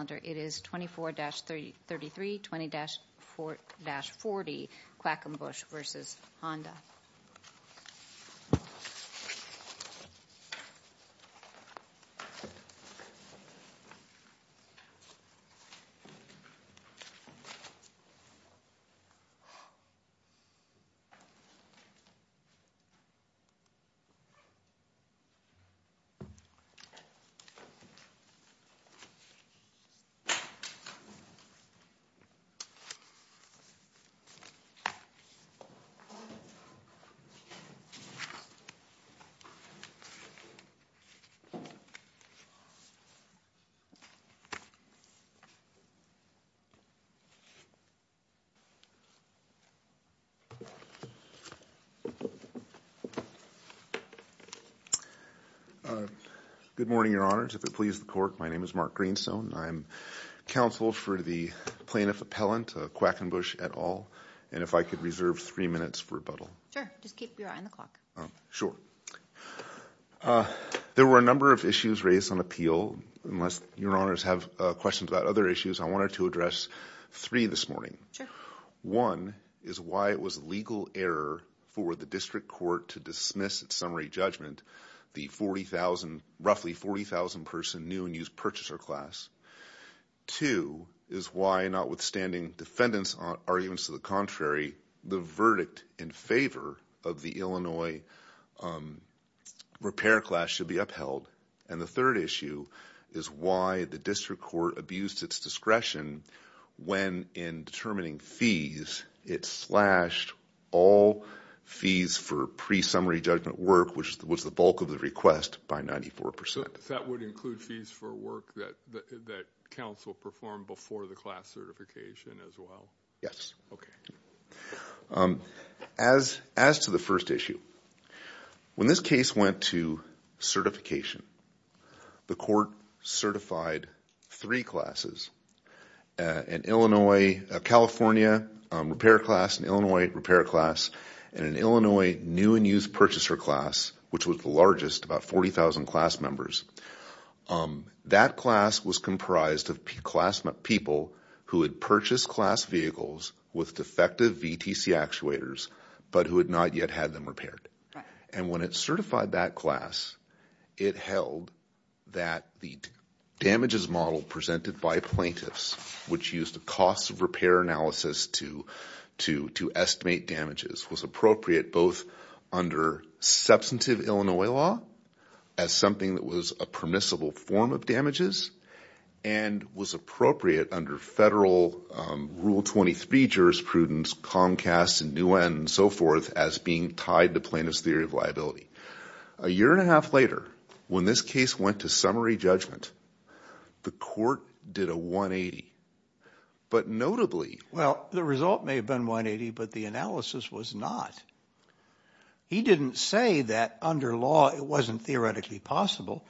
It is 24-33, 20-40, Quackenbush v. Honda. Good morning, Your Honors. If it pleases the Court, my name is Mark Greenstone. I'm counsel for the plaintiff appellant, Quackenbush, et al. And if I could reserve three minutes for rebuttal. Sure, just keep your eye on the clock. Sure. There were a number of issues raised on appeal. Unless Your Honors have questions about other issues, I wanted to address three this morning. Sure. One is why it was a legal error for the District Court to dismiss its summary judgment, the roughly 40,000-person new and used purchaser class. Two is why, notwithstanding defendants' arguments to the contrary, the verdict in favor of the Illinois repair class should be upheld. And the third issue is why the District Court abused its discretion when in determining fees it slashed all fees for pre-summary judgment work, which was the bulk of the request, by 94%. That would include fees for work that counsel performed before the class certification as well? Yes. Okay. As to the first issue, when this case went to certification, the Court certified three classes, a California repair class, an Illinois repair class, and an Illinois new and used purchaser class, which was the largest, about 40,000 class members. That class was comprised of people who had purchased class vehicles with defective VTC actuators, but who had not yet had them repaired. And when it certified that class, it held that the damages model presented by plaintiffs, which used a cost of repair analysis to estimate damages, was appropriate both under substantive Illinois law, as something that was a permissible form of damages, and was appropriate under federal Rule 23 jurisprudence, Comcast and new and so forth, as being tied to plaintiff's theory of liability. A year and a half later, when this case went to summary judgment, the Court did a 180. But notably... Well, the result may have been 180, but the analysis was not. He didn't say that under law it wasn't theoretically possible.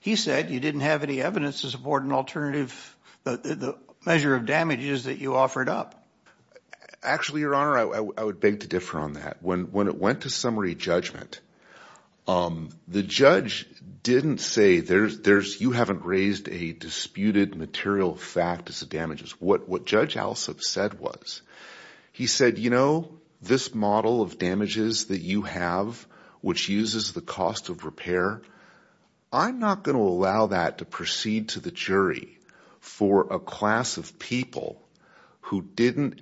He said you didn't have any evidence to support an alternative measure of damages that you offered up. Actually, Your Honor, I would beg to differ on that. When it went to summary judgment, the judge didn't say, you haven't raised a disputed material fact as to damages. What Judge Alsup said was, he said, you know, this model of damages that you have, which uses the cost of repair, I'm not going to allow that to proceed to the jury for a class of people who didn't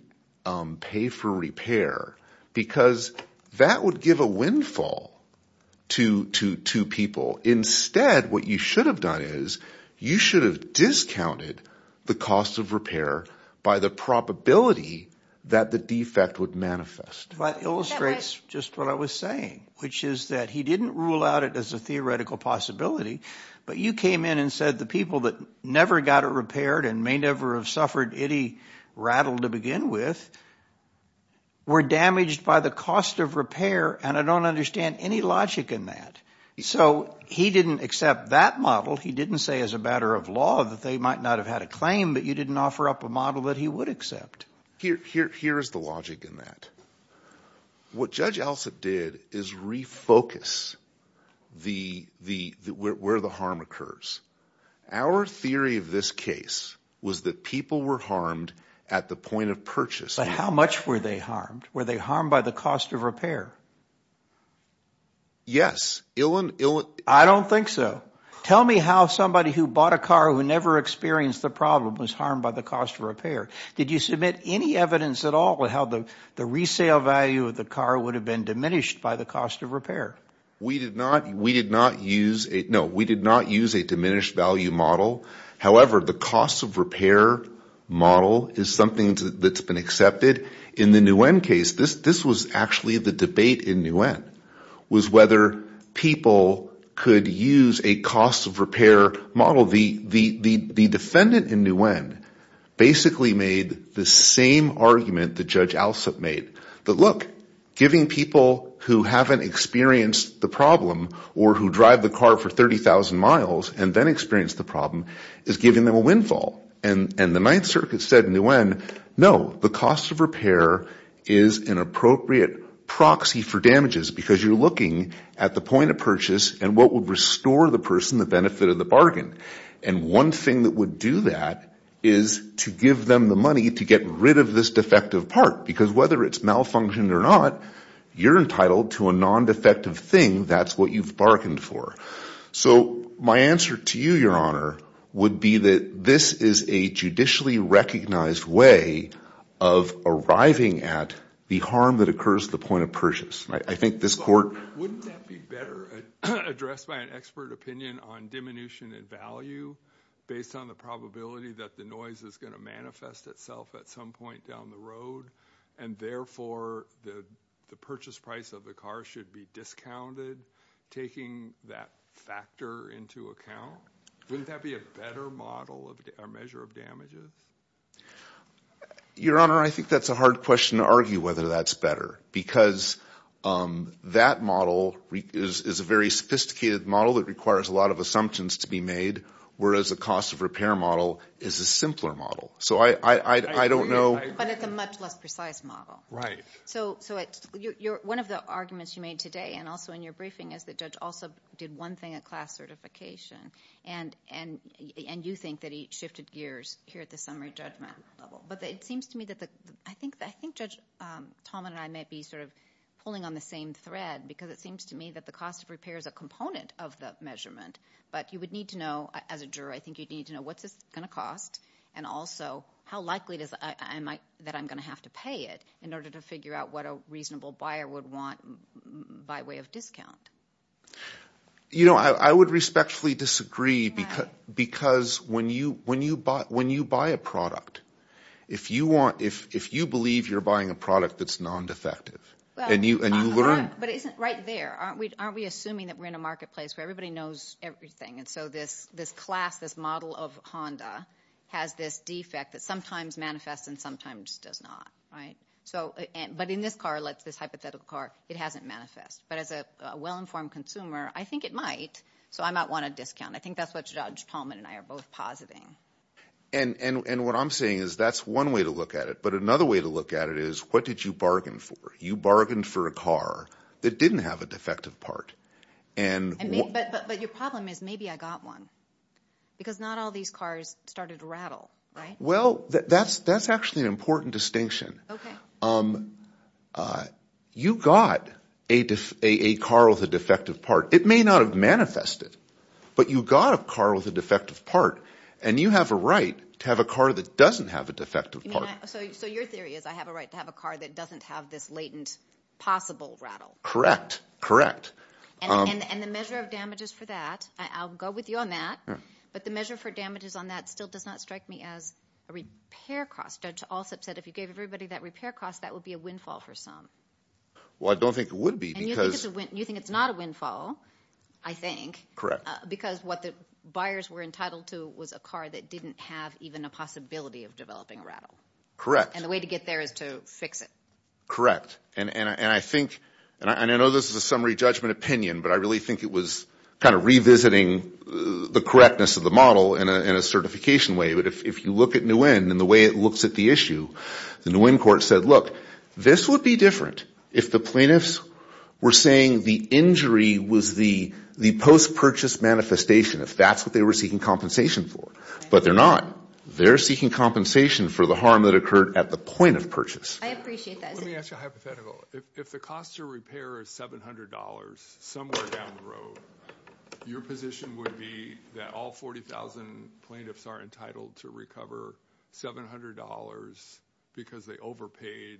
pay for repair because that would give a windfall to people. Instead, what you should have done is, you should have discounted the cost of repair by the probability that the defect would manifest. That illustrates just what I was saying, which is that he didn't rule out it as a theoretical possibility, but you came in and said the people that never got it repaired and may never have suffered any rattle to begin with were damaged by the cost of repair, and I don't understand any logic in that. So he didn't accept that model. He didn't say as a matter of law that they might not have had a claim, but you didn't offer up a model that he would accept. Here is the logic in that. What Judge Alsup did is refocus where the harm occurs. Our theory of this case was that people were harmed at the point of purchase. But how much were they harmed? Were they harmed by the cost of repair? Yes. I don't think so. Tell me how somebody who bought a car who never experienced the problem was harmed by the cost of repair. Did you submit any evidence at all of how the resale value of the car would have been diminished by the cost of repair? We did not use a diminished value model. However, the cost of repair model is something that's been accepted. In the Nguyen case, this was actually the debate in Nguyen, was whether people could use a cost of repair model. The defendant in Nguyen basically made the same argument that Judge Alsup made, that, look, giving people who haven't experienced the problem, or who drive the car for 30,000 miles and then experience the problem, is giving them a windfall. The Ninth Circuit said in Nguyen, no, the cost of repair is an appropriate proxy for damages because you're looking at the point of purchase and what would restore the person the benefit of the bargain. One thing that would do that is to give them the money to get rid of this defective part because whether it's malfunctioned or not, you're entitled to a non-defective thing. That's what you've bargained for. So my answer to you, Your Honor, would be that this is a judicially recognized way of arriving at the harm that occurs at the point of purchase. I think this court— Wouldn't that be better addressed by an expert opinion on diminution in value based on the probability that the noise is going to manifest itself at some point down the road and therefore the purchase price of the car should be discounted, taking that factor into account? Wouldn't that be a better model or measure of damages? Your Honor, I think that's a hard question to argue whether that's better because that model is a very sophisticated model that requires a lot of assumptions to be made whereas the cost of repair model is a simpler model. So I don't know. But it's a much less precise model. Right. So one of the arguments you made today and also in your briefing is that Judge Alsop did one thing at class certification and you think that he shifted gears here at the summary judgment level. But it seems to me that the—I think Judge Tallman and I may be sort of pulling on the same thread because it seems to me that the cost of repair is a component of the measurement, but you would need to know, as a juror, I think you'd need to know what's this going to cost and also how likely that I'm going to have to pay it in order to figure out what a reasonable buyer would want by way of discount. You know, I would respectfully disagree because when you buy a product, if you believe you're buying a product that's non-defective and you learn— But it isn't right there. Aren't we assuming that we're in a marketplace where everybody knows everything and so this class, this model of Honda has this defect that sometimes manifests and sometimes does not, right? But in this car, this hypothetical car, it hasn't manifested. But as a well-informed consumer, I think it might, so I might want a discount. I think that's what Judge Tallman and I are both positing. And what I'm saying is that's one way to look at it. But another way to look at it is what did you bargain for? You bargained for a car that didn't have a defective part. But your problem is maybe I got one because not all these cars started to rattle, right? Well, that's actually an important distinction. Okay. You got a car with a defective part. It may not have manifested, but you got a car with a defective part, and you have a right to have a car that doesn't have a defective part. So your theory is I have a right to have a car that doesn't have this latent possible rattle. Correct, correct. And the measure of damages for that, I'll go with you on that, but the measure for damages on that still does not strike me as a repair cost. Judge Alsup said if you gave everybody that repair cost, that would be a windfall for some. Well, I don't think it would be because— And you think it's not a windfall, I think, because what the buyers were entitled to was a car that didn't have even a possibility of developing a rattle. And the way to get there is to fix it. Correct. And I think—and I know this is a summary judgment opinion, but I really think it was kind of revisiting the correctness of the model in a certification way. But if you look at Nguyen and the way it looks at the issue, the Nguyen court said, look, this would be different if the plaintiffs were saying the injury was the post-purchase manifestation, if that's what they were seeking compensation for. But they're not. They're seeking compensation for the harm that occurred at the point of purchase. I appreciate that. Let me ask you a hypothetical. If the cost to repair is $700, somewhere down the road, your position would be that all 40,000 plaintiffs are entitled to recover $700 because they overpaid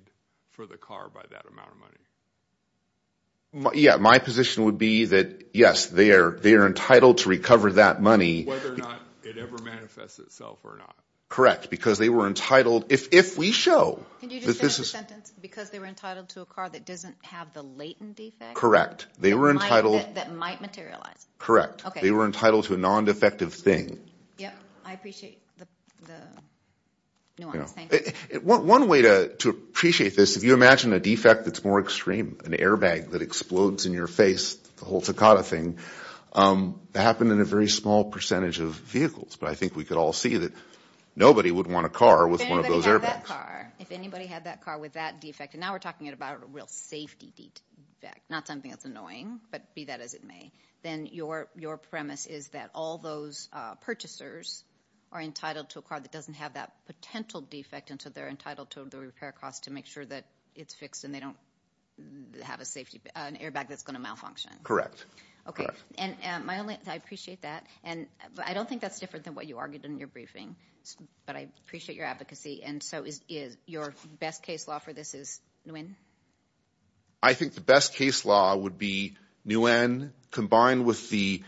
for the car by that amount of money? Yeah. My position would be that, yes, they are entitled to recover that money. Whether or not it ever manifests itself or not. Correct. Because they were entitled—if we show that this is— Can you just finish the sentence? Because they were entitled to a car that doesn't have the latent defect? Correct. They were entitled— That might materialize. Correct. Okay. They were entitled to a non-defective thing. Yeah. I appreciate the nuance. Thank you. One way to appreciate this, if you imagine a defect that's more extreme, an airbag that explodes in your face, the whole Takata thing, that happened in a very small percentage of vehicles. But I think we could all see that nobody would want a car with one of those airbags. If anybody had that car, if anybody had that car with that defect, and now we're talking about a real safety defect, not something that's annoying, but be that as it may, then your premise is that all those purchasers are entitled to a car that doesn't have that potential defect, and so they're entitled to the repair cost to make sure that it's fixed and they don't have an airbag that's going to malfunction. I appreciate that. I don't think that's different than what you argued in your briefing, but I appreciate your advocacy. And so your best case law for this is Nguyen? I think the best case law would be Nguyen combined with the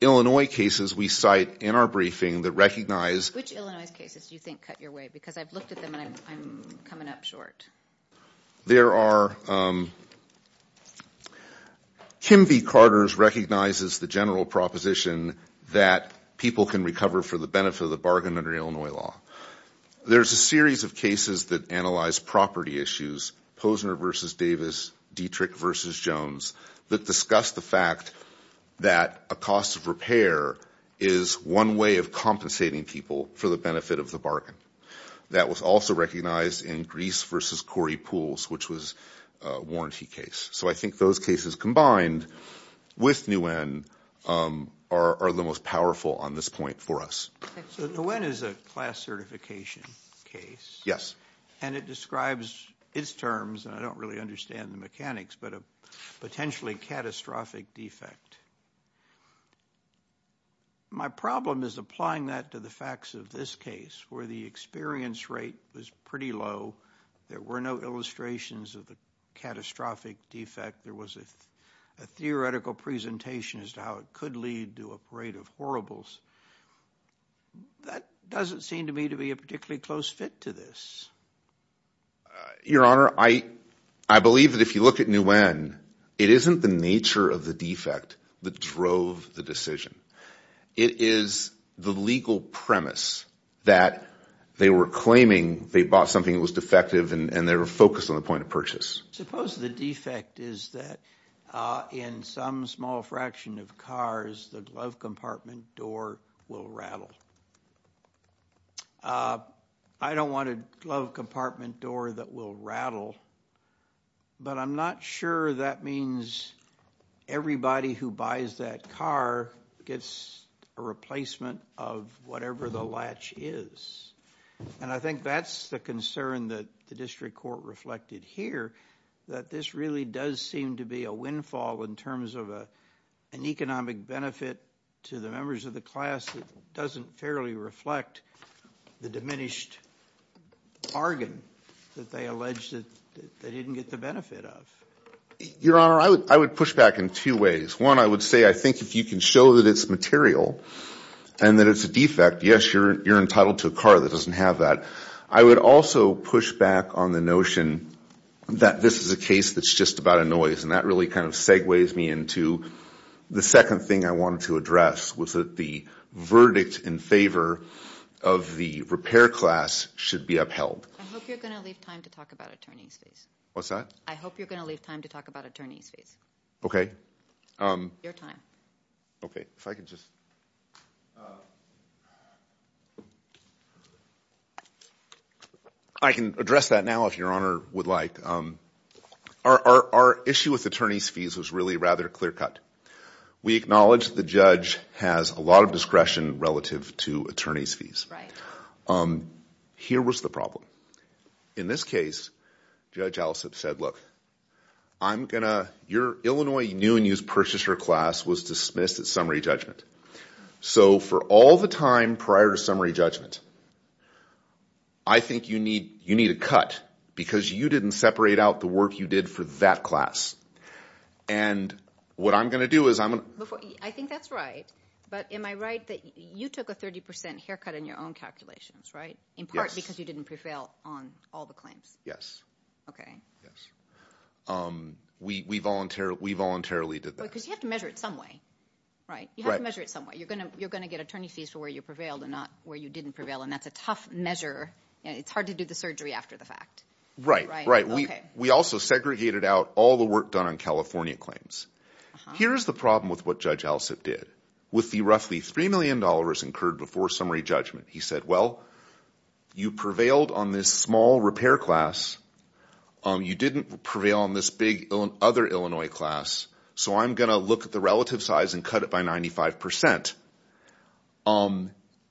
Illinois cases we cite in our briefing that recognize— Which Illinois cases do you think cut your way? Because I've looked at them and I'm coming up short. There are—Kimby-Carters recognizes the general proposition that people can recover for the benefit of the bargain under Illinois law. There's a series of cases that analyze property issues, Posner v. Davis, Dietrich v. Jones, that discuss the fact that a cost of repair is one way of compensating people for the benefit of the bargain. That was also recognized in Grease v. Corey Pools, which was a warranty case. So I think those cases combined with Nguyen are the most powerful on this point for us. So Nguyen is a class certification case. Yes. And it describes its terms, and I don't really understand the mechanics, but a potentially catastrophic defect. My problem is applying that to the facts of this case, where the experience rate was pretty low. There were no illustrations of the catastrophic defect. There was a theoretical presentation as to how it could lead to a parade of horribles. That doesn't seem to me to be a particularly close fit to this. Your Honor, I believe that if you look at Nguyen, it isn't the nature of the defect that drove the decision. It is the legal premise that they were claiming they bought something that was defective and they were focused on the point of purchase. Suppose the defect is that in some small fraction of cars, the glove compartment door will rattle. I don't want a glove compartment door that will rattle, but I'm not sure that means everybody who buys that car gets a replacement of whatever the latch is. And I think that's the concern that the district court reflected here, that this really does seem to be a windfall in terms of an economic benefit to the members of the class that doesn't fairly reflect the diminished bargain that they alleged that they didn't get the benefit of. Your Honor, I would push back in two ways. One, I would say I think if you can show that it's material and that it's a defect, yes, you're entitled to a car that doesn't have that. I would also push back on the notion that this is a case that's just about a noise, and that really kind of segues me into the second thing I wanted to address was that the verdict in favor of the repair class should be upheld. I hope you're going to leave time to talk about attorney's fees. What's that? I hope you're going to leave time to talk about attorney's fees. Okay. Your time. Okay, if I could just. I can address that now if Your Honor would like. Our issue with attorney's fees was really rather clear cut. We acknowledge the judge has a lot of discretion relative to attorney's fees. Here was the problem. In this case, Judge Allisop said, look, your Illinois new and used purchaser class was dismissed at summary judgment. So for all the time prior to summary judgment, I think you need a cut because you didn't separate out the work you did for that class. And what I'm going to do is I'm going to. I think that's right. But am I right that you took a 30 percent haircut in your own calculations, right, in part because you didn't prevail on all the claims? Yes. Okay. We voluntarily did that. Because you have to measure it some way, right? You have to measure it some way. You're going to get attorney's fees for where you prevailed and not where you didn't prevail, and that's a tough measure. It's hard to do the surgery after the fact. Right, right. We also segregated out all the work done on California claims. Here's the problem with what Judge Allisop did. With the roughly $3 million incurred before summary judgment, he said, well, you prevailed on this small repair class. You didn't prevail on this big other Illinois class, so I'm going to look at the relative size and cut it by 95 percent.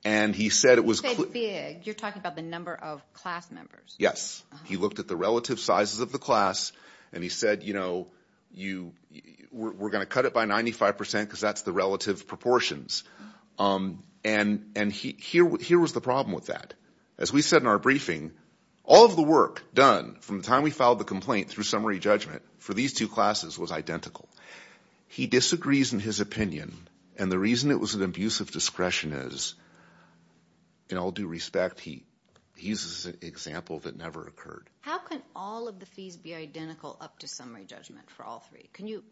And he said it was... You said big. You're talking about the number of class members. Yes. He looked at the relative sizes of the class, and he said, you know, we're going to cut it by 95 percent because that's the relative proportions. And here was the problem with that. As we said in our briefing, all of the work done from the time we filed the complaint through summary judgment for these two classes was identical. He disagrees in his opinion, and the reason it was an abuse of discretion is, in all due respect, he uses an example that never occurred. How can all of the fees be identical up to summary judgment for all three? Can you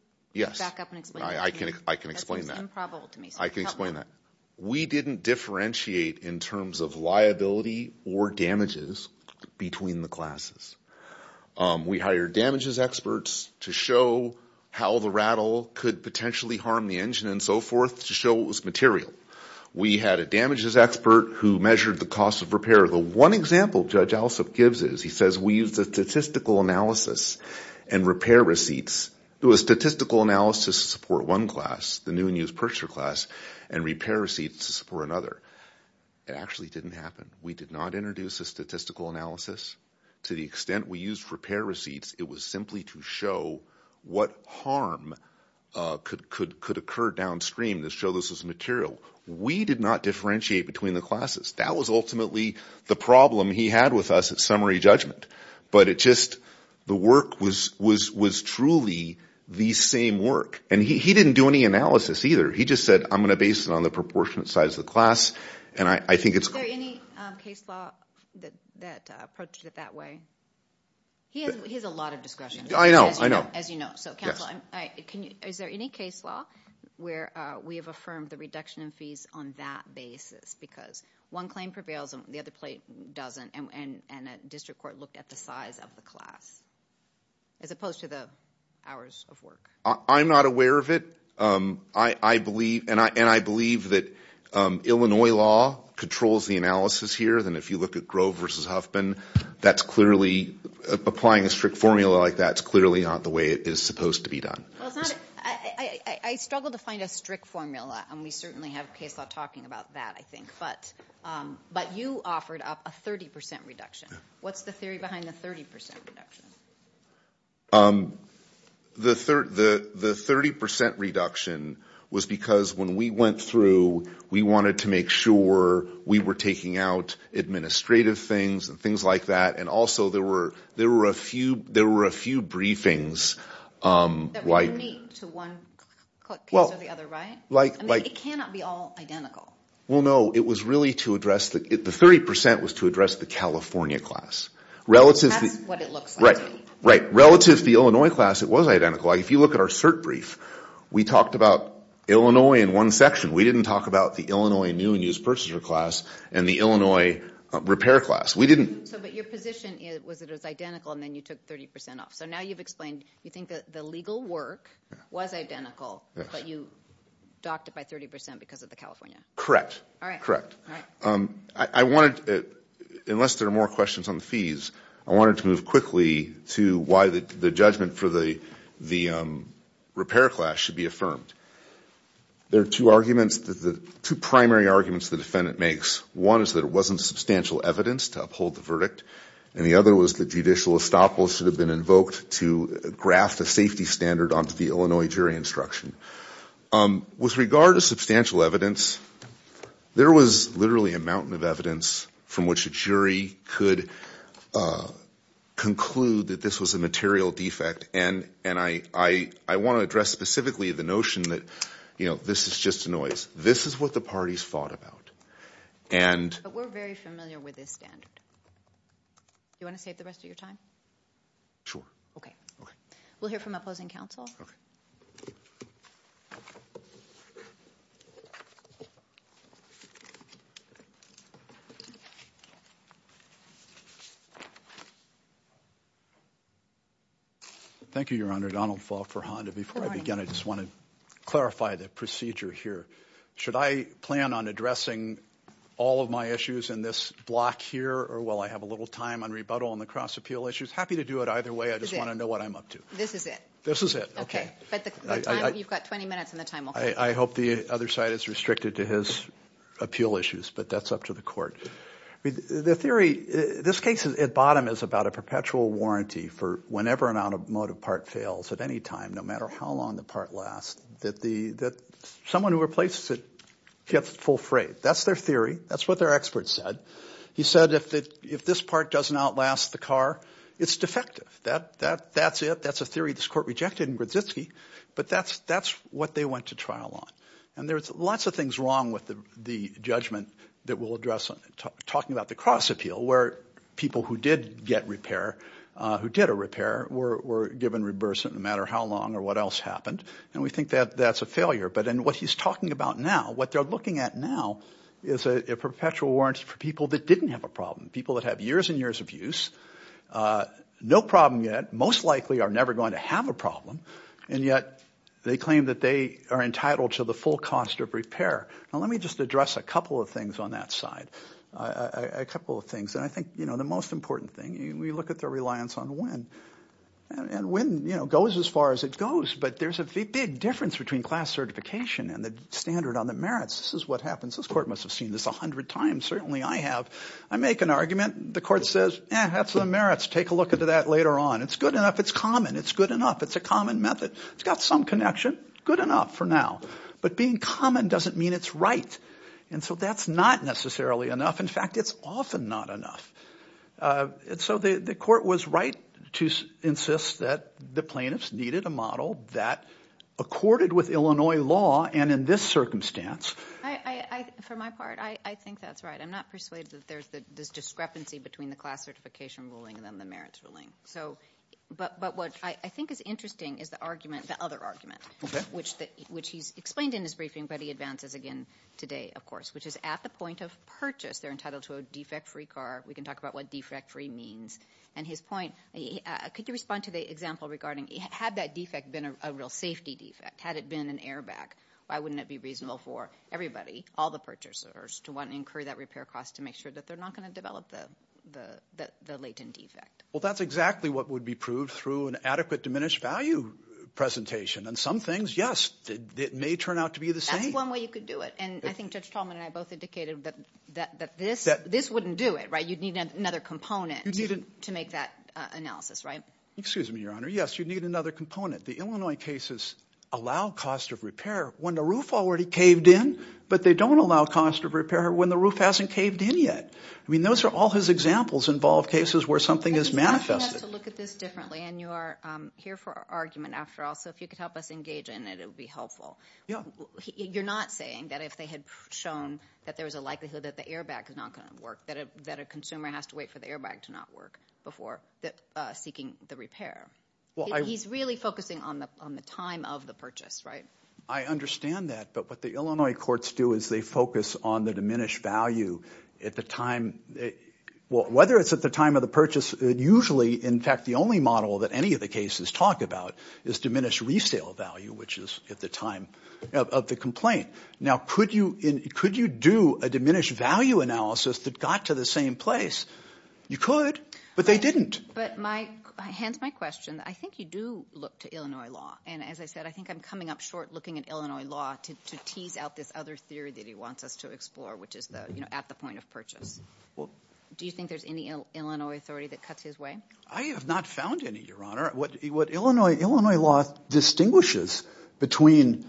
back up and explain that to me? I can explain that. That seems improbable to me. I can explain that. We didn't differentiate in terms of liability or damages between the classes. We hired damages experts to show how the rattle could potentially harm the engine and so forth to show it was material. We had a damages expert who measured the cost of repair. The one example Judge Alsup gives is, he says, we used a statistical analysis and repair receipts. It was statistical analysis to support one class, the new and used purchaser class, and repair receipts to support another. It actually didn't happen. We did not introduce a statistical analysis. To the extent we used repair receipts, it was simply to show what harm could occur downstream to show this was material. We did not differentiate between the classes. That was ultimately the problem he had with us at summary judgment. But it just, the work was truly the same work. And he didn't do any analysis either. He just said, I'm going to base it on the proportionate size of the class, and I think it's clear. Is there any case law that approaches it that way? He has a lot of discretion. I know, I know. As you know. Is there any case law where we have affirmed the reduction in fees on that basis? Because one claim prevails and the other doesn't, and a district court looked at the size of the class as opposed to the hours of work. I'm not aware of it. And I believe that Illinois law controls the analysis here. And if you look at Grove v. Huffman, that's clearly, applying a strict formula like that is clearly not the way it is supposed to be done. I struggle to find a strict formula, and we certainly have case law talking about that, I think. But you offered up a 30% reduction. What's the theory behind the 30% reduction? The 30% reduction was because when we went through, we wanted to make sure we were taking out administrative things and things like that, and also there were a few briefings. That were unique to one case or the other, right? It cannot be all identical. Well, no. The 30% was to address the California class. That's what it looks like. Right. Relative to the Illinois class, it was identical. If you look at our cert brief, we talked about Illinois in one section. We didn't talk about the Illinois new and used purchaser class and the Illinois repair class. We didn't. But your position was that it was identical, and then you took 30% off. So now you've explained you think that the legal work was identical, but you docked it by 30% because of the California. Correct. All right. I wanted, unless there are more questions on the fees, I wanted to move quickly to why the judgment for the repair class should be affirmed. There are two arguments, two primary arguments the defendant makes. One is that it wasn't substantial evidence to uphold the verdict. And the other was that judicial estoppel should have been invoked to graft a safety standard onto the Illinois jury instruction. With regard to substantial evidence, there was literally a mountain of evidence from which a jury could conclude that this was a material defect. And I want to address specifically the notion that this is just a noise. This is what the parties thought about. But we're very familiar with this standard. Do you want to save the rest of your time? Sure. Okay. We'll hear from opposing counsel. Thank you, Your Honor. Donald Faulk for Honda. Before I begin, I just want to clarify the procedure here. Should I plan on addressing all of my issues in this block here, or will I have a little time on rebuttal on the cross-appeal issues? Happy to do it either way. I just want to know what I'm up to. This is it. This is it. Okay. You've got 20 minutes, and the time will come. I hope the other side is restricted to his appeal issues, but that's up to the court. The theory, this case at bottom is about a perpetual warranty for whenever an automotive part fails at any time, no matter how long the part lasts. That someone who replaces it gets full freight. That's their theory. That's what their expert said. He said if this part doesn't outlast the car, it's defective. That's it. That's a theory this court rejected in Grdziski, but that's what they went to trial on. And there's lots of things wrong with the judgment that we'll address talking about the cross-appeal, where people who did get repair, who did a repair, were given reimbursement no matter how long or what else happened. And we think that that's a failure. But in what he's talking about now, what they're looking at now is a perpetual warranty for people that didn't have a problem, people that have years and years of use, no problem yet, most likely are never going to have a problem. And yet they claim that they are entitled to the full cost of repair. Now, let me just address a couple of things on that side, a couple of things. And I think, you know, the most important thing, we look at their reliance on when. And when, you know, goes as far as it goes. But there's a big difference between class certification and the standard on the merits. This is what happens. This court must have seen this a hundred times. Certainly I have. I make an argument. The court says, eh, that's the merits. Take a look at that later on. It's good enough. It's common. It's good enough. It's a common method. It's got some connection. Good enough for now. But being common doesn't mean it's right. And so that's not necessarily enough. In fact, it's often not enough. And so the court was right to insist that the plaintiffs needed a model that accorded with Illinois law and in this circumstance. For my part, I think that's right. I'm not persuaded that there's this discrepancy between the class certification ruling and then the merits ruling. But what I think is interesting is the other argument, which he's explained in his briefing, but he advances again today, of course, which is at the point of purchase, they're entitled to a defect-free car. We can talk about what defect-free means. And his point, could you respond to the example regarding had that defect been a real safety defect, had it been an airbag, why wouldn't it be reasonable for everybody, all the purchasers, to want to incur that repair cost to make sure that they're not going to develop the latent defect? Well, that's exactly what would be proved through an adequate diminished value presentation. And some things, yes, it may turn out to be the same. That's one way you could do it. And I think Judge Tallman and I both indicated that this wouldn't do it, right? You'd need another component to make that analysis, right? Excuse me, Your Honor. Yes, you'd need another component. The Illinois cases allow cost of repair when the roof already caved in, but they don't allow cost of repair when the roof hasn't caved in yet. I mean, those are all his examples involve cases where something is manifested. He has to look at this differently, and you are here for argument after all, so if you could help us engage in it, it would be helpful. Yeah. You're not saying that if they had shown that there was a likelihood that the airbag is not going to work, that a consumer has to wait for the airbag to not work before seeking the repair? He's really focusing on the time of the purchase, right? I understand that. But what the Illinois courts do is they focus on the diminished value at the time. Whether it's at the time of the purchase, usually, in fact, the only model that any of the cases talk about is diminished resale value, which is at the time of the complaint. Now, could you do a diminished value analysis that got to the same place? You could, but they didn't. But hence my question. I think you do look to Illinois law. And as I said, I think I'm coming up short looking at Illinois law to tease out this other theory that he wants us to explore, which is at the point of purchase. Do you think there's any Illinois authority that cuts his way? I have not found any, Your Honor. What Illinois law distinguishes between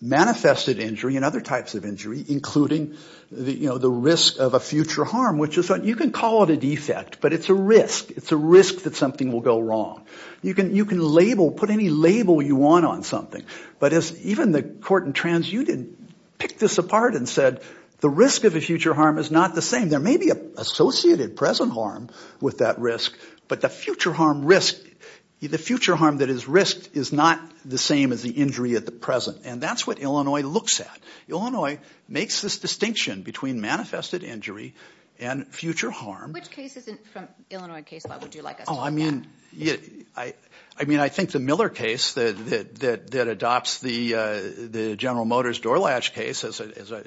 manifested injury and other types of injury, including the risk of a future harm, which you can call it a defect, but it's a risk. It's a risk that something will go wrong. You can label, put any label you want on something. But even the court in trans, you didn't pick this apart and said the risk of a future harm is not the same. There may be an associated present harm with that risk, but the future harm that is risked is not the same as the injury at the present. And that's what Illinois looks at. Illinois makes this distinction between manifested injury and future harm. Which cases from Illinois case law would you like us to look at? I mean, I think the Miller case that adopts the General Motors door latch case as a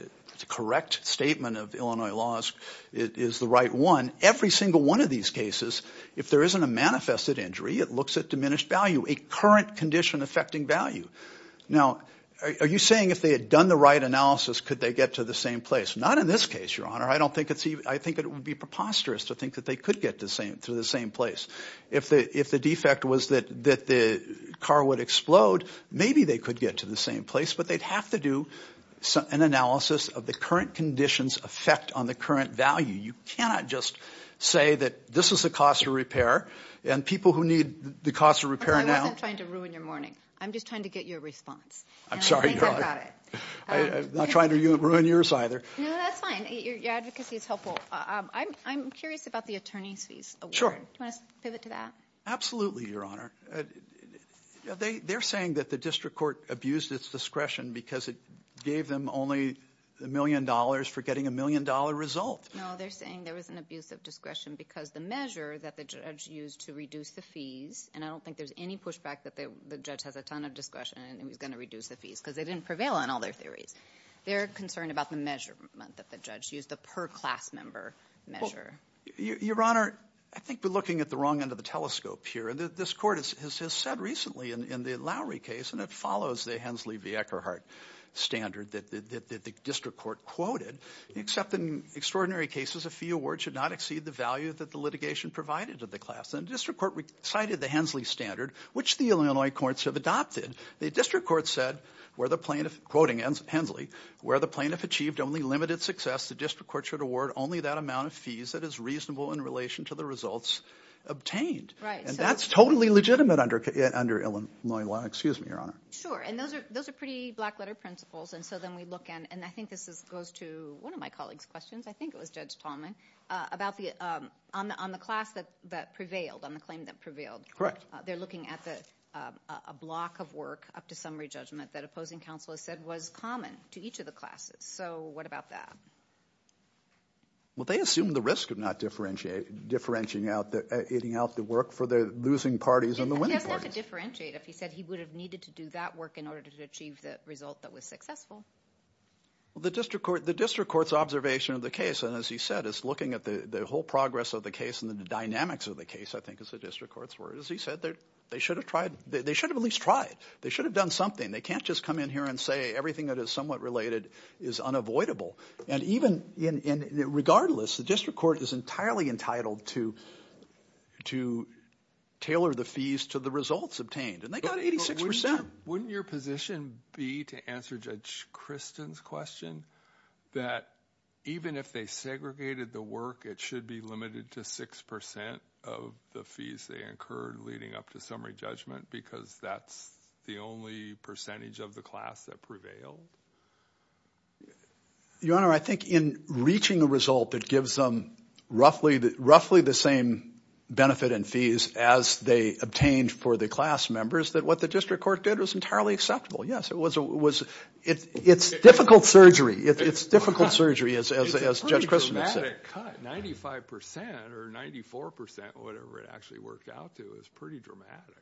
correct statement of Illinois laws is the right one. Every single one of these cases, if there isn't a manifested injury, it looks at diminished value, a current condition affecting value. Now, are you saying if they had done the right analysis, could they get to the same place? Not in this case, Your Honor. I think it would be preposterous to think that they could get to the same place. If the defect was that the car would explode, maybe they could get to the same place, but they'd have to do an analysis of the current condition's effect on the current value. You cannot just say that this is the cost of repair and people who need the cost of repair now. I wasn't trying to ruin your morning. I'm just trying to get your response. I'm sorry, Your Honor. I'm not trying to ruin yours either. No, that's fine. Your advocacy is helpful. I'm curious about the attorney's fees award. Do you want to pivot to that? Absolutely, Your Honor. They're saying that the district court abused its discretion because it gave them only a million dollars for getting a million-dollar result. No, they're saying there was an abuse of discretion because the measure that the judge used to reduce the fees, and I don't think there's any pushback that the judge has a ton of discretion and he's going to reduce the fees because they didn't prevail on all their theories. They're concerned about the measurement that the judge used, the per-class member measure. Your Honor, I think we're looking at the wrong end of the telescope here. This court has said recently in the Lowry case, and it follows the Hensley v. Eckerhart standard that the district court quoted, except in extraordinary cases a fee award should not exceed the value that the litigation provided to the class. The district court cited the Hensley standard, which the Illinois courts have adopted. The district court said, quoting Hensley, where the plaintiff achieved only limited success, the district court should award only that amount of fees that is reasonable in relation to the results obtained. And that's totally legitimate under Illinois law. Excuse me, Your Honor. Sure, and those are pretty black-letter principles. And so then we look at, and I think this goes to one of my colleagues' questions, I think it was Judge Tallman, on the class that prevailed, on the claim that prevailed. Correct. They're looking at a block of work, up to summary judgment, that opposing counsel has said was common to each of the classes. So what about that? Well, they assume the risk of not differentiating out the work for the losing parties and the winning parties. He doesn't have to differentiate. If he said he would have needed to do that work in order to achieve the result that was successful. The district court's observation of the case, and as he said, is looking at the whole progress of the case and the dynamics of the case, I think, is the district court's word. As he said, they should have at least tried. They should have done something. They can't just come in here and say everything that is somewhat related is unavoidable. And regardless, the district court is entirely entitled to tailor the fees to the results obtained. And they got 86%. Wouldn't your position be, to answer Judge Christen's question, that even if they segregated the work, it should be limited to 6% of the fees they incurred leading up to summary judgment, because that's the only percentage of the class that prevailed? Your Honor, I think in reaching a result that gives them roughly the same benefit and fees as they obtained for the class members, that what the district court did was entirely acceptable. Yes, it's difficult surgery. It's difficult surgery, as Judge Christen has said. It's a pretty dramatic cut. 95% or 94%, whatever it actually worked out to, is pretty dramatic.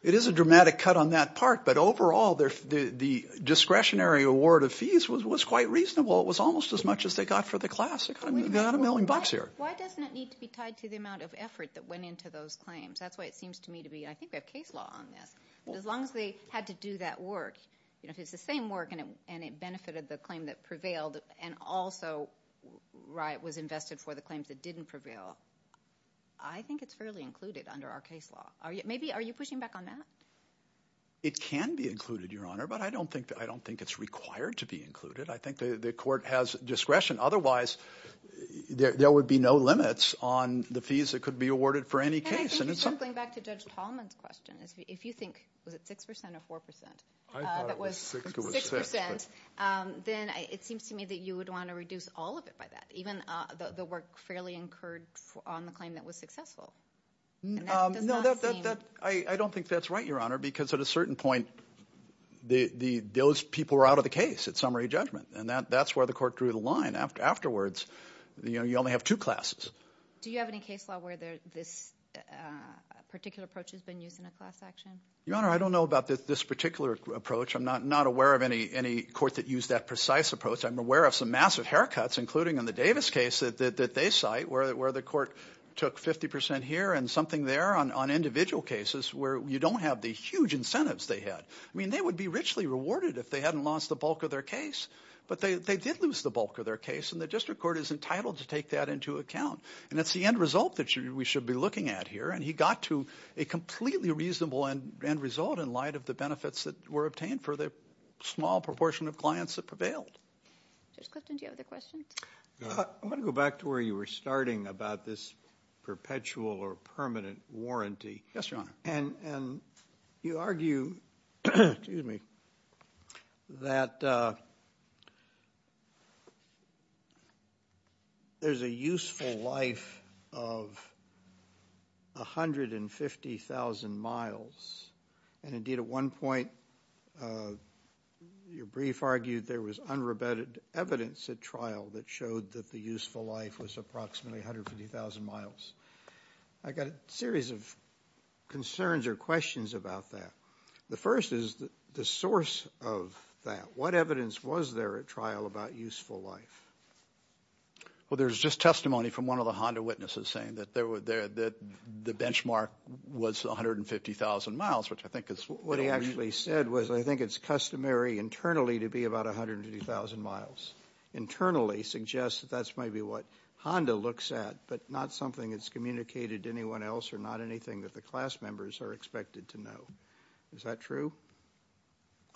It is a dramatic cut on that part. But overall, the discretionary award of fees was quite reasonable. It was almost as much as they got for the class. They got a million bucks here. Why doesn't it need to be tied to the amount of effort that went into those claims? That's why it seems to me to be, I think they have case law on this. As long as they had to do that work, if it's the same work and it benefited the claim that prevailed and also was invested for the claims that didn't prevail, I think it's fairly included under our case law. Are you pushing back on that? It can be included, Your Honor, but I don't think it's required to be included. I think the court has discretion. Otherwise, there would be no limits on the fees that could be awarded for any case. Going back to Judge Tallman's question, if you think, was it 6% or 4%? I thought it was 6%. Then it seems to me that you would want to reduce all of it by that, even the work fairly incurred on the claim that was successful. No, I don't think that's right, Your Honor, because at a certain point, those people were out of the case at summary judgment. That's where the court drew the line afterwards. You only have two classes. Do you have any case law where this particular approach has been used in a class action? Your Honor, I don't know about this particular approach. I'm not aware of any court that used that precise approach. I'm aware of some massive haircuts, including in the Davis case that they cite, where the court took 50% here and something there on individual cases where you don't have the huge incentives they had. They would be richly rewarded if they hadn't lost the bulk of their case, but they did lose the bulk of their case, and the district court is entitled to take that into account. That's the end result that we should be looking at here, and he got to a completely reasonable end result in light of the benefits that were obtained for the small proportion of clients that prevailed. Judge Clifton, do you have other questions? I want to go back to where you were starting about this perpetual or permanent warranty. Yes, Your Honor. You argue that there's a useful life of 150,000 miles, and indeed at one point your brief argued there was unrebutted evidence at trial that showed that the useful life was approximately 150,000 miles. I've got a series of concerns or questions about that. The first is the source of that. What evidence was there at trial about useful life? Well, there's just testimony from one of the Honda witnesses saying that the benchmark was 150,000 miles, which I think is a little weird. What he actually said was I think it's customary internally to be about 150,000 miles. Internally suggests that that's maybe what Honda looks at, but not something that's communicated to anyone else or not anything that the class members are expected to know. Is that true?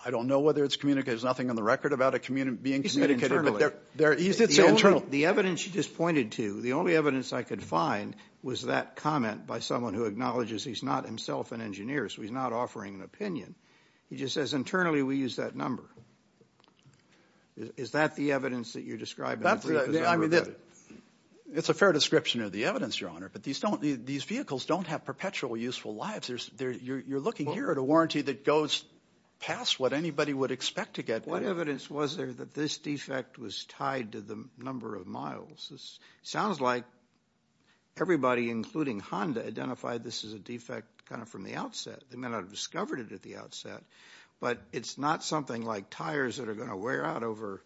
I don't know whether it's communicated. There's nothing on the record about it being communicated. The evidence you just pointed to, the only evidence I could find, was that comment by someone who acknowledges he's not himself an engineer, so he's not offering an opinion. He just says internally we use that number. Is that the evidence that you're describing? It's a fair description of the evidence, Your Honor, but these vehicles don't have perpetual useful lives. You're looking here at a warranty that goes past what anybody would expect to get. What evidence was there that this defect was tied to the number of miles? It sounds like everybody, including Honda, identified this as a defect kind of from the outset. They may not have discovered it at the outset, but it's not something like tires that are going to wear out over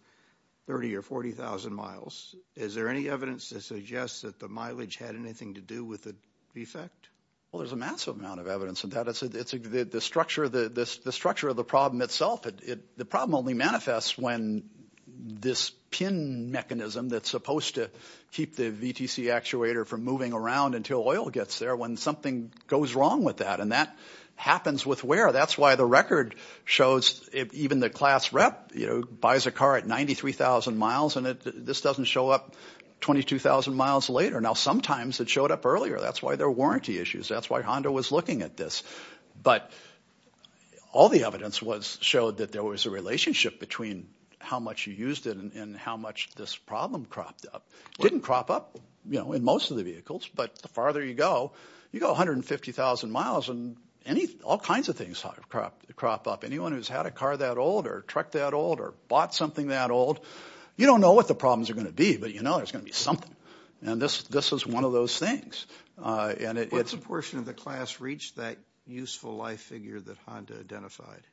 30,000 or 40,000 miles. Is there any evidence that suggests that the mileage had anything to do with the defect? Well, there's a massive amount of evidence of that. The structure of the problem itself, the problem only manifests when this pin mechanism that's supposed to keep the VTC actuator from moving around until oil gets there, when something goes wrong with that, and that happens with wear. That's why the record shows even the class rep buys a car at 93,000 miles, and this doesn't show up 22,000 miles later. Now, sometimes it showed up earlier. That's why there were warranty issues. That's why Honda was looking at this. But all the evidence showed that there was a relationship between how much you used it and how much this problem cropped up. It didn't crop up in most of the vehicles, but the farther you go, you go 150,000 miles, and all kinds of things crop up. Anyone who's had a car that old or a truck that old or bought something that old, you don't know what the problems are going to be, but you know there's going to be something, and this is one of those things. When did a portion of the class reach that useful life figure that Honda identified?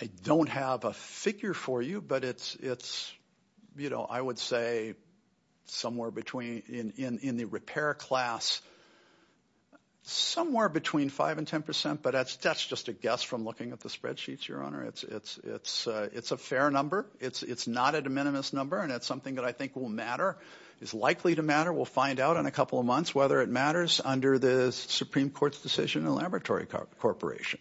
I don't have a figure for you, but it's, you know, I would say somewhere in the repair class somewhere between 5% and 10%, but that's just a guess from looking at the spreadsheets, Your Honor. It's a fair number. It's not a de minimis number, and it's something that I think will matter. It's likely to matter. We'll find out in a couple of months whether it matters under the Supreme Court's decision in the laboratory corporation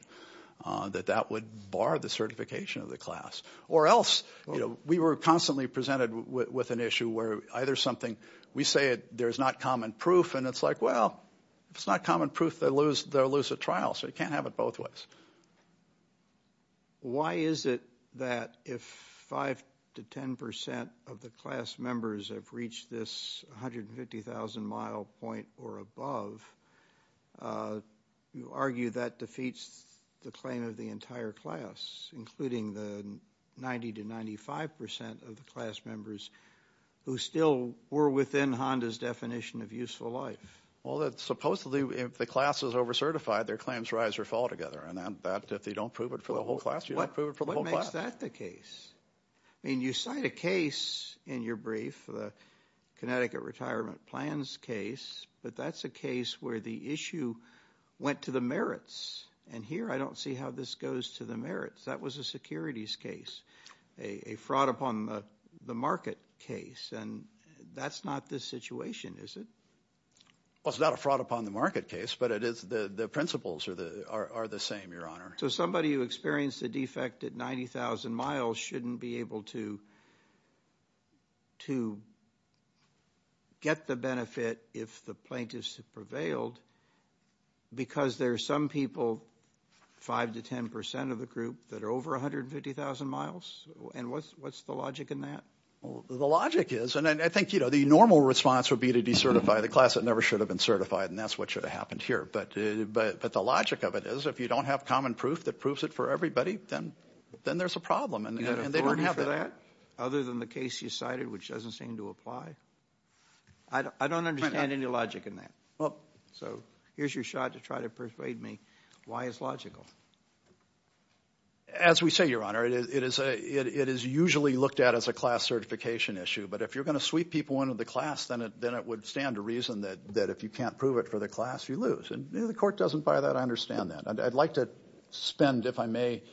that that would bar the certification of the class or else, you know, we were constantly presented with an issue where either something, we say there's not common proof, and it's like, well, if it's not common proof, they'll lose a trial, so you can't have it both ways. Why is it that if 5% to 10% of the class members have reached this 150,000-mile point or above, you argue that defeats the claim of the entire class, including the 90% to 95% of the class members who still were within Honda's definition of useful life? Well, supposedly if the class is over-certified, their claims rise or fall together, and if you don't prove it for the whole class, you don't prove it for the whole class. What makes that the case? I mean, you cite a case in your brief, the Connecticut retirement plans case, but that's a case where the issue went to the merits, and here I don't see how this goes to the merits. That was a securities case, a fraud upon the market case, and that's not this situation, is it? Well, it's not a fraud upon the market case, but the principles are the same, Your Honor. So somebody who experienced a defect at 90,000 miles shouldn't be able to get the benefit if the plaintiffs prevailed because there are some people, 5% to 10% of the group, that are over 150,000 miles, and what's the logic in that? Well, the logic is, and I think, you know, the normal response would be to decertify the class that never should have been certified, and that's what should have happened here, but the logic of it is if you don't have common proof that proves it for everybody, then there's a problem, and they don't have that. Other than the case you cited, which doesn't seem to apply? I don't understand any logic in that. So here's your shot to try to persuade me why it's logical. As we say, Your Honor, it is usually looked at as a class certification issue, but if you're going to sweep people into the class, then it would stand to reason that if you can't prove it for the class, you lose, and if the court doesn't buy that, I understand that. I'd like to spend, if I may,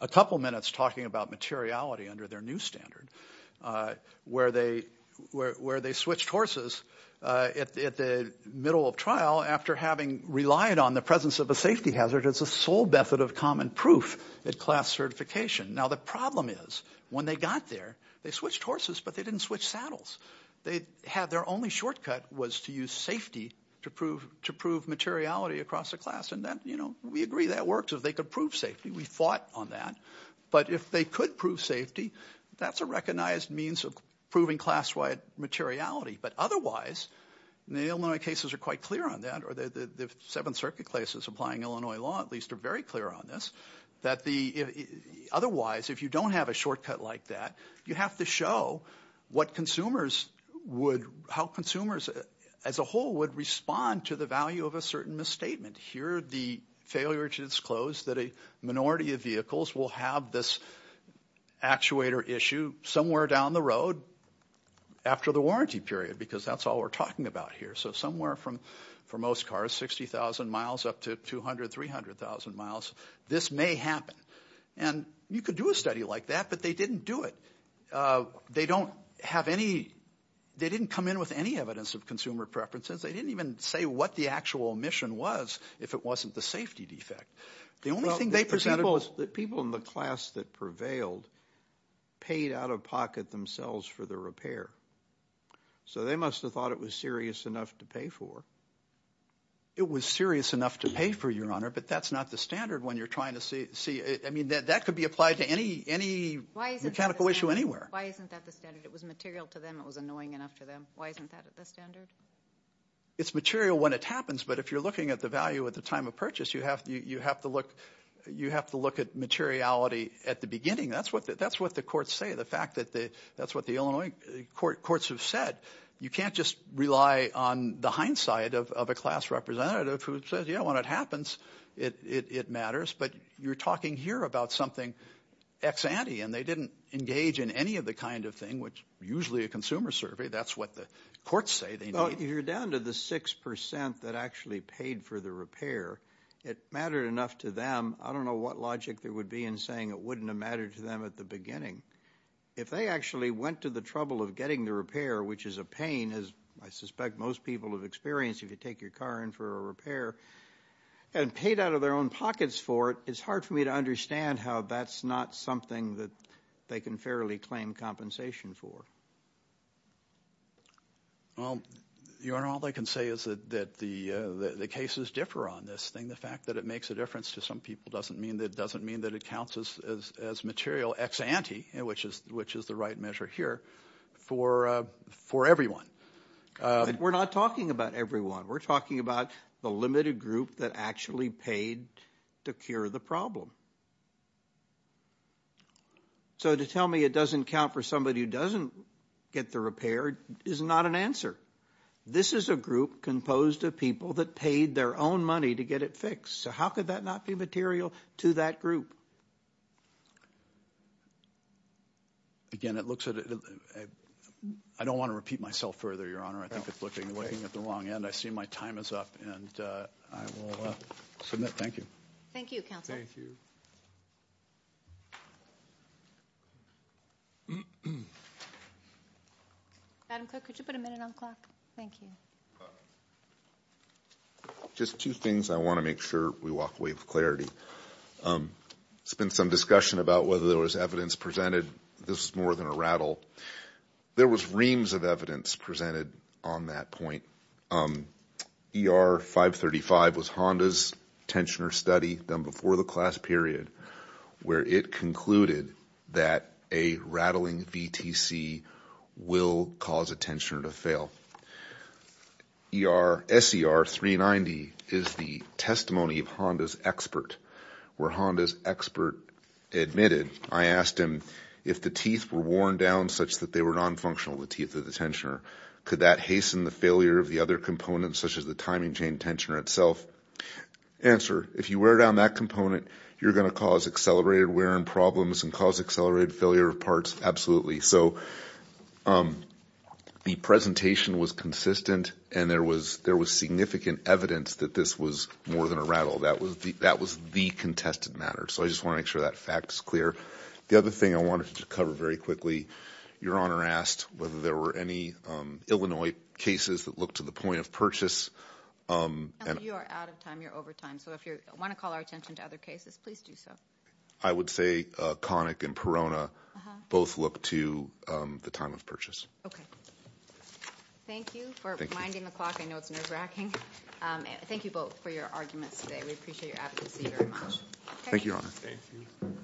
a couple minutes talking about materiality under their new standard where they switched horses at the middle of trial after having relied on the presence of a safety hazard as a sole method of common proof at class certification. Now the problem is when they got there, they switched horses, but they didn't switch saddles. Their only shortcut was to use safety to prove materiality across the class, and we agree that works if they could prove safety. We fought on that, but if they could prove safety, that's a recognized means of proving class-wide materiality. But otherwise, and the Illinois cases are quite clear on that, or the Seventh Circuit cases applying Illinois law at least are very clear on this, that otherwise, if you don't have a shortcut like that, you have to show how consumers as a whole would respond to the value of a certain misstatement. Here the failure to disclose that a minority of vehicles will have this actuator issue somewhere down the road after the warranty period, because that's all we're talking about here. So somewhere from, for most cars, 60,000 miles up to 200,000, 300,000 miles, this may happen. And you could do a study like that, but they didn't do it. They don't have any, they didn't come in with any evidence of consumer preferences. They didn't even say what the actual omission was if it wasn't the safety defect. The only thing they presented was that people in the class that prevailed paid out-of-pocket themselves for the repair. So they must have thought it was serious enough to pay for. It was serious enough to pay for, Your Honor, but that's not the standard when you're trying to see, I mean, that could be applied to any mechanical issue anywhere. Why isn't that the standard? It was material to them. It was annoying enough to them. Why isn't that the standard? It's material when it happens, but if you're looking at the value at the time of purchase, you have to look at materiality at the beginning. That's what the courts say, the fact that that's what the Illinois courts have said. You can't just rely on the hindsight of a class representative who says, you know, when it happens, it matters. But you're talking here about something ex-ante, and they didn't engage in any of the kind of thing, which is usually a consumer survey. That's what the courts say they need. Well, you're down to the 6% that actually paid for the repair. It mattered enough to them. I don't know what logic there would be in saying it wouldn't have mattered to them at the beginning. If they actually went to the trouble of getting the repair, which is a pain, as I suspect most people have experienced if you take your car in for a repair, and paid out of their own pockets for it, it's hard for me to understand how that's not something that they can fairly claim compensation for. Well, Your Honor, all I can say is that the cases differ on this thing. The fact that it makes a difference to some people doesn't mean that it counts as material ex-ante, which is the right measure here, for everyone. We're not talking about everyone. We're talking about the limited group that actually paid to cure the problem. So to tell me it doesn't count for somebody who doesn't get the repair is not an answer. This is a group composed of people that paid their own money to get it fixed. So how could that not be material to that group? Again, it looks at it as a – I don't want to repeat myself further, Your Honor. I think it's looking at the wrong end. I see my time is up, and I will submit. Thank you. Thank you, counsel. Madam Clerk, could you put a minute on the clock? Thank you. Just two things I want to make sure we walk away with clarity. There's been some discussion about whether there was evidence presented. This is more than a rattle. There was reams of evidence presented on that point. ER-535 was Honda's tensioner study done before the class period, where it concluded that a rattling VTC will cause a tensioner to fail. SER-390 is the testimony of Honda's expert, where Honda's expert admitted, I asked him if the teeth were worn down such that they were nonfunctional, the teeth of the tensioner, could that hasten the failure of the other components, such as the timing chain tensioner itself? Answer, if you wear down that component, you're going to cause accelerated wear and problems and cause accelerated failure of parts? Absolutely. So the presentation was consistent, and there was significant evidence that this was more than a rattle. That was the contested matter. So I just want to make sure that fact is clear. The other thing I wanted to cover very quickly, Your Honor asked whether there were any Illinois cases that looked to the point of purchase. You are out of time. You're over time. So if you want to call our attention to other cases, please do so. I would say Connick and Perona both look to the time of purchase. Okay. Thank you for reminding the clock. I know it's nerve-wracking. Thank you both for your arguments today. We appreciate your advocacy very much. Thank you, Your Honor. Thank you.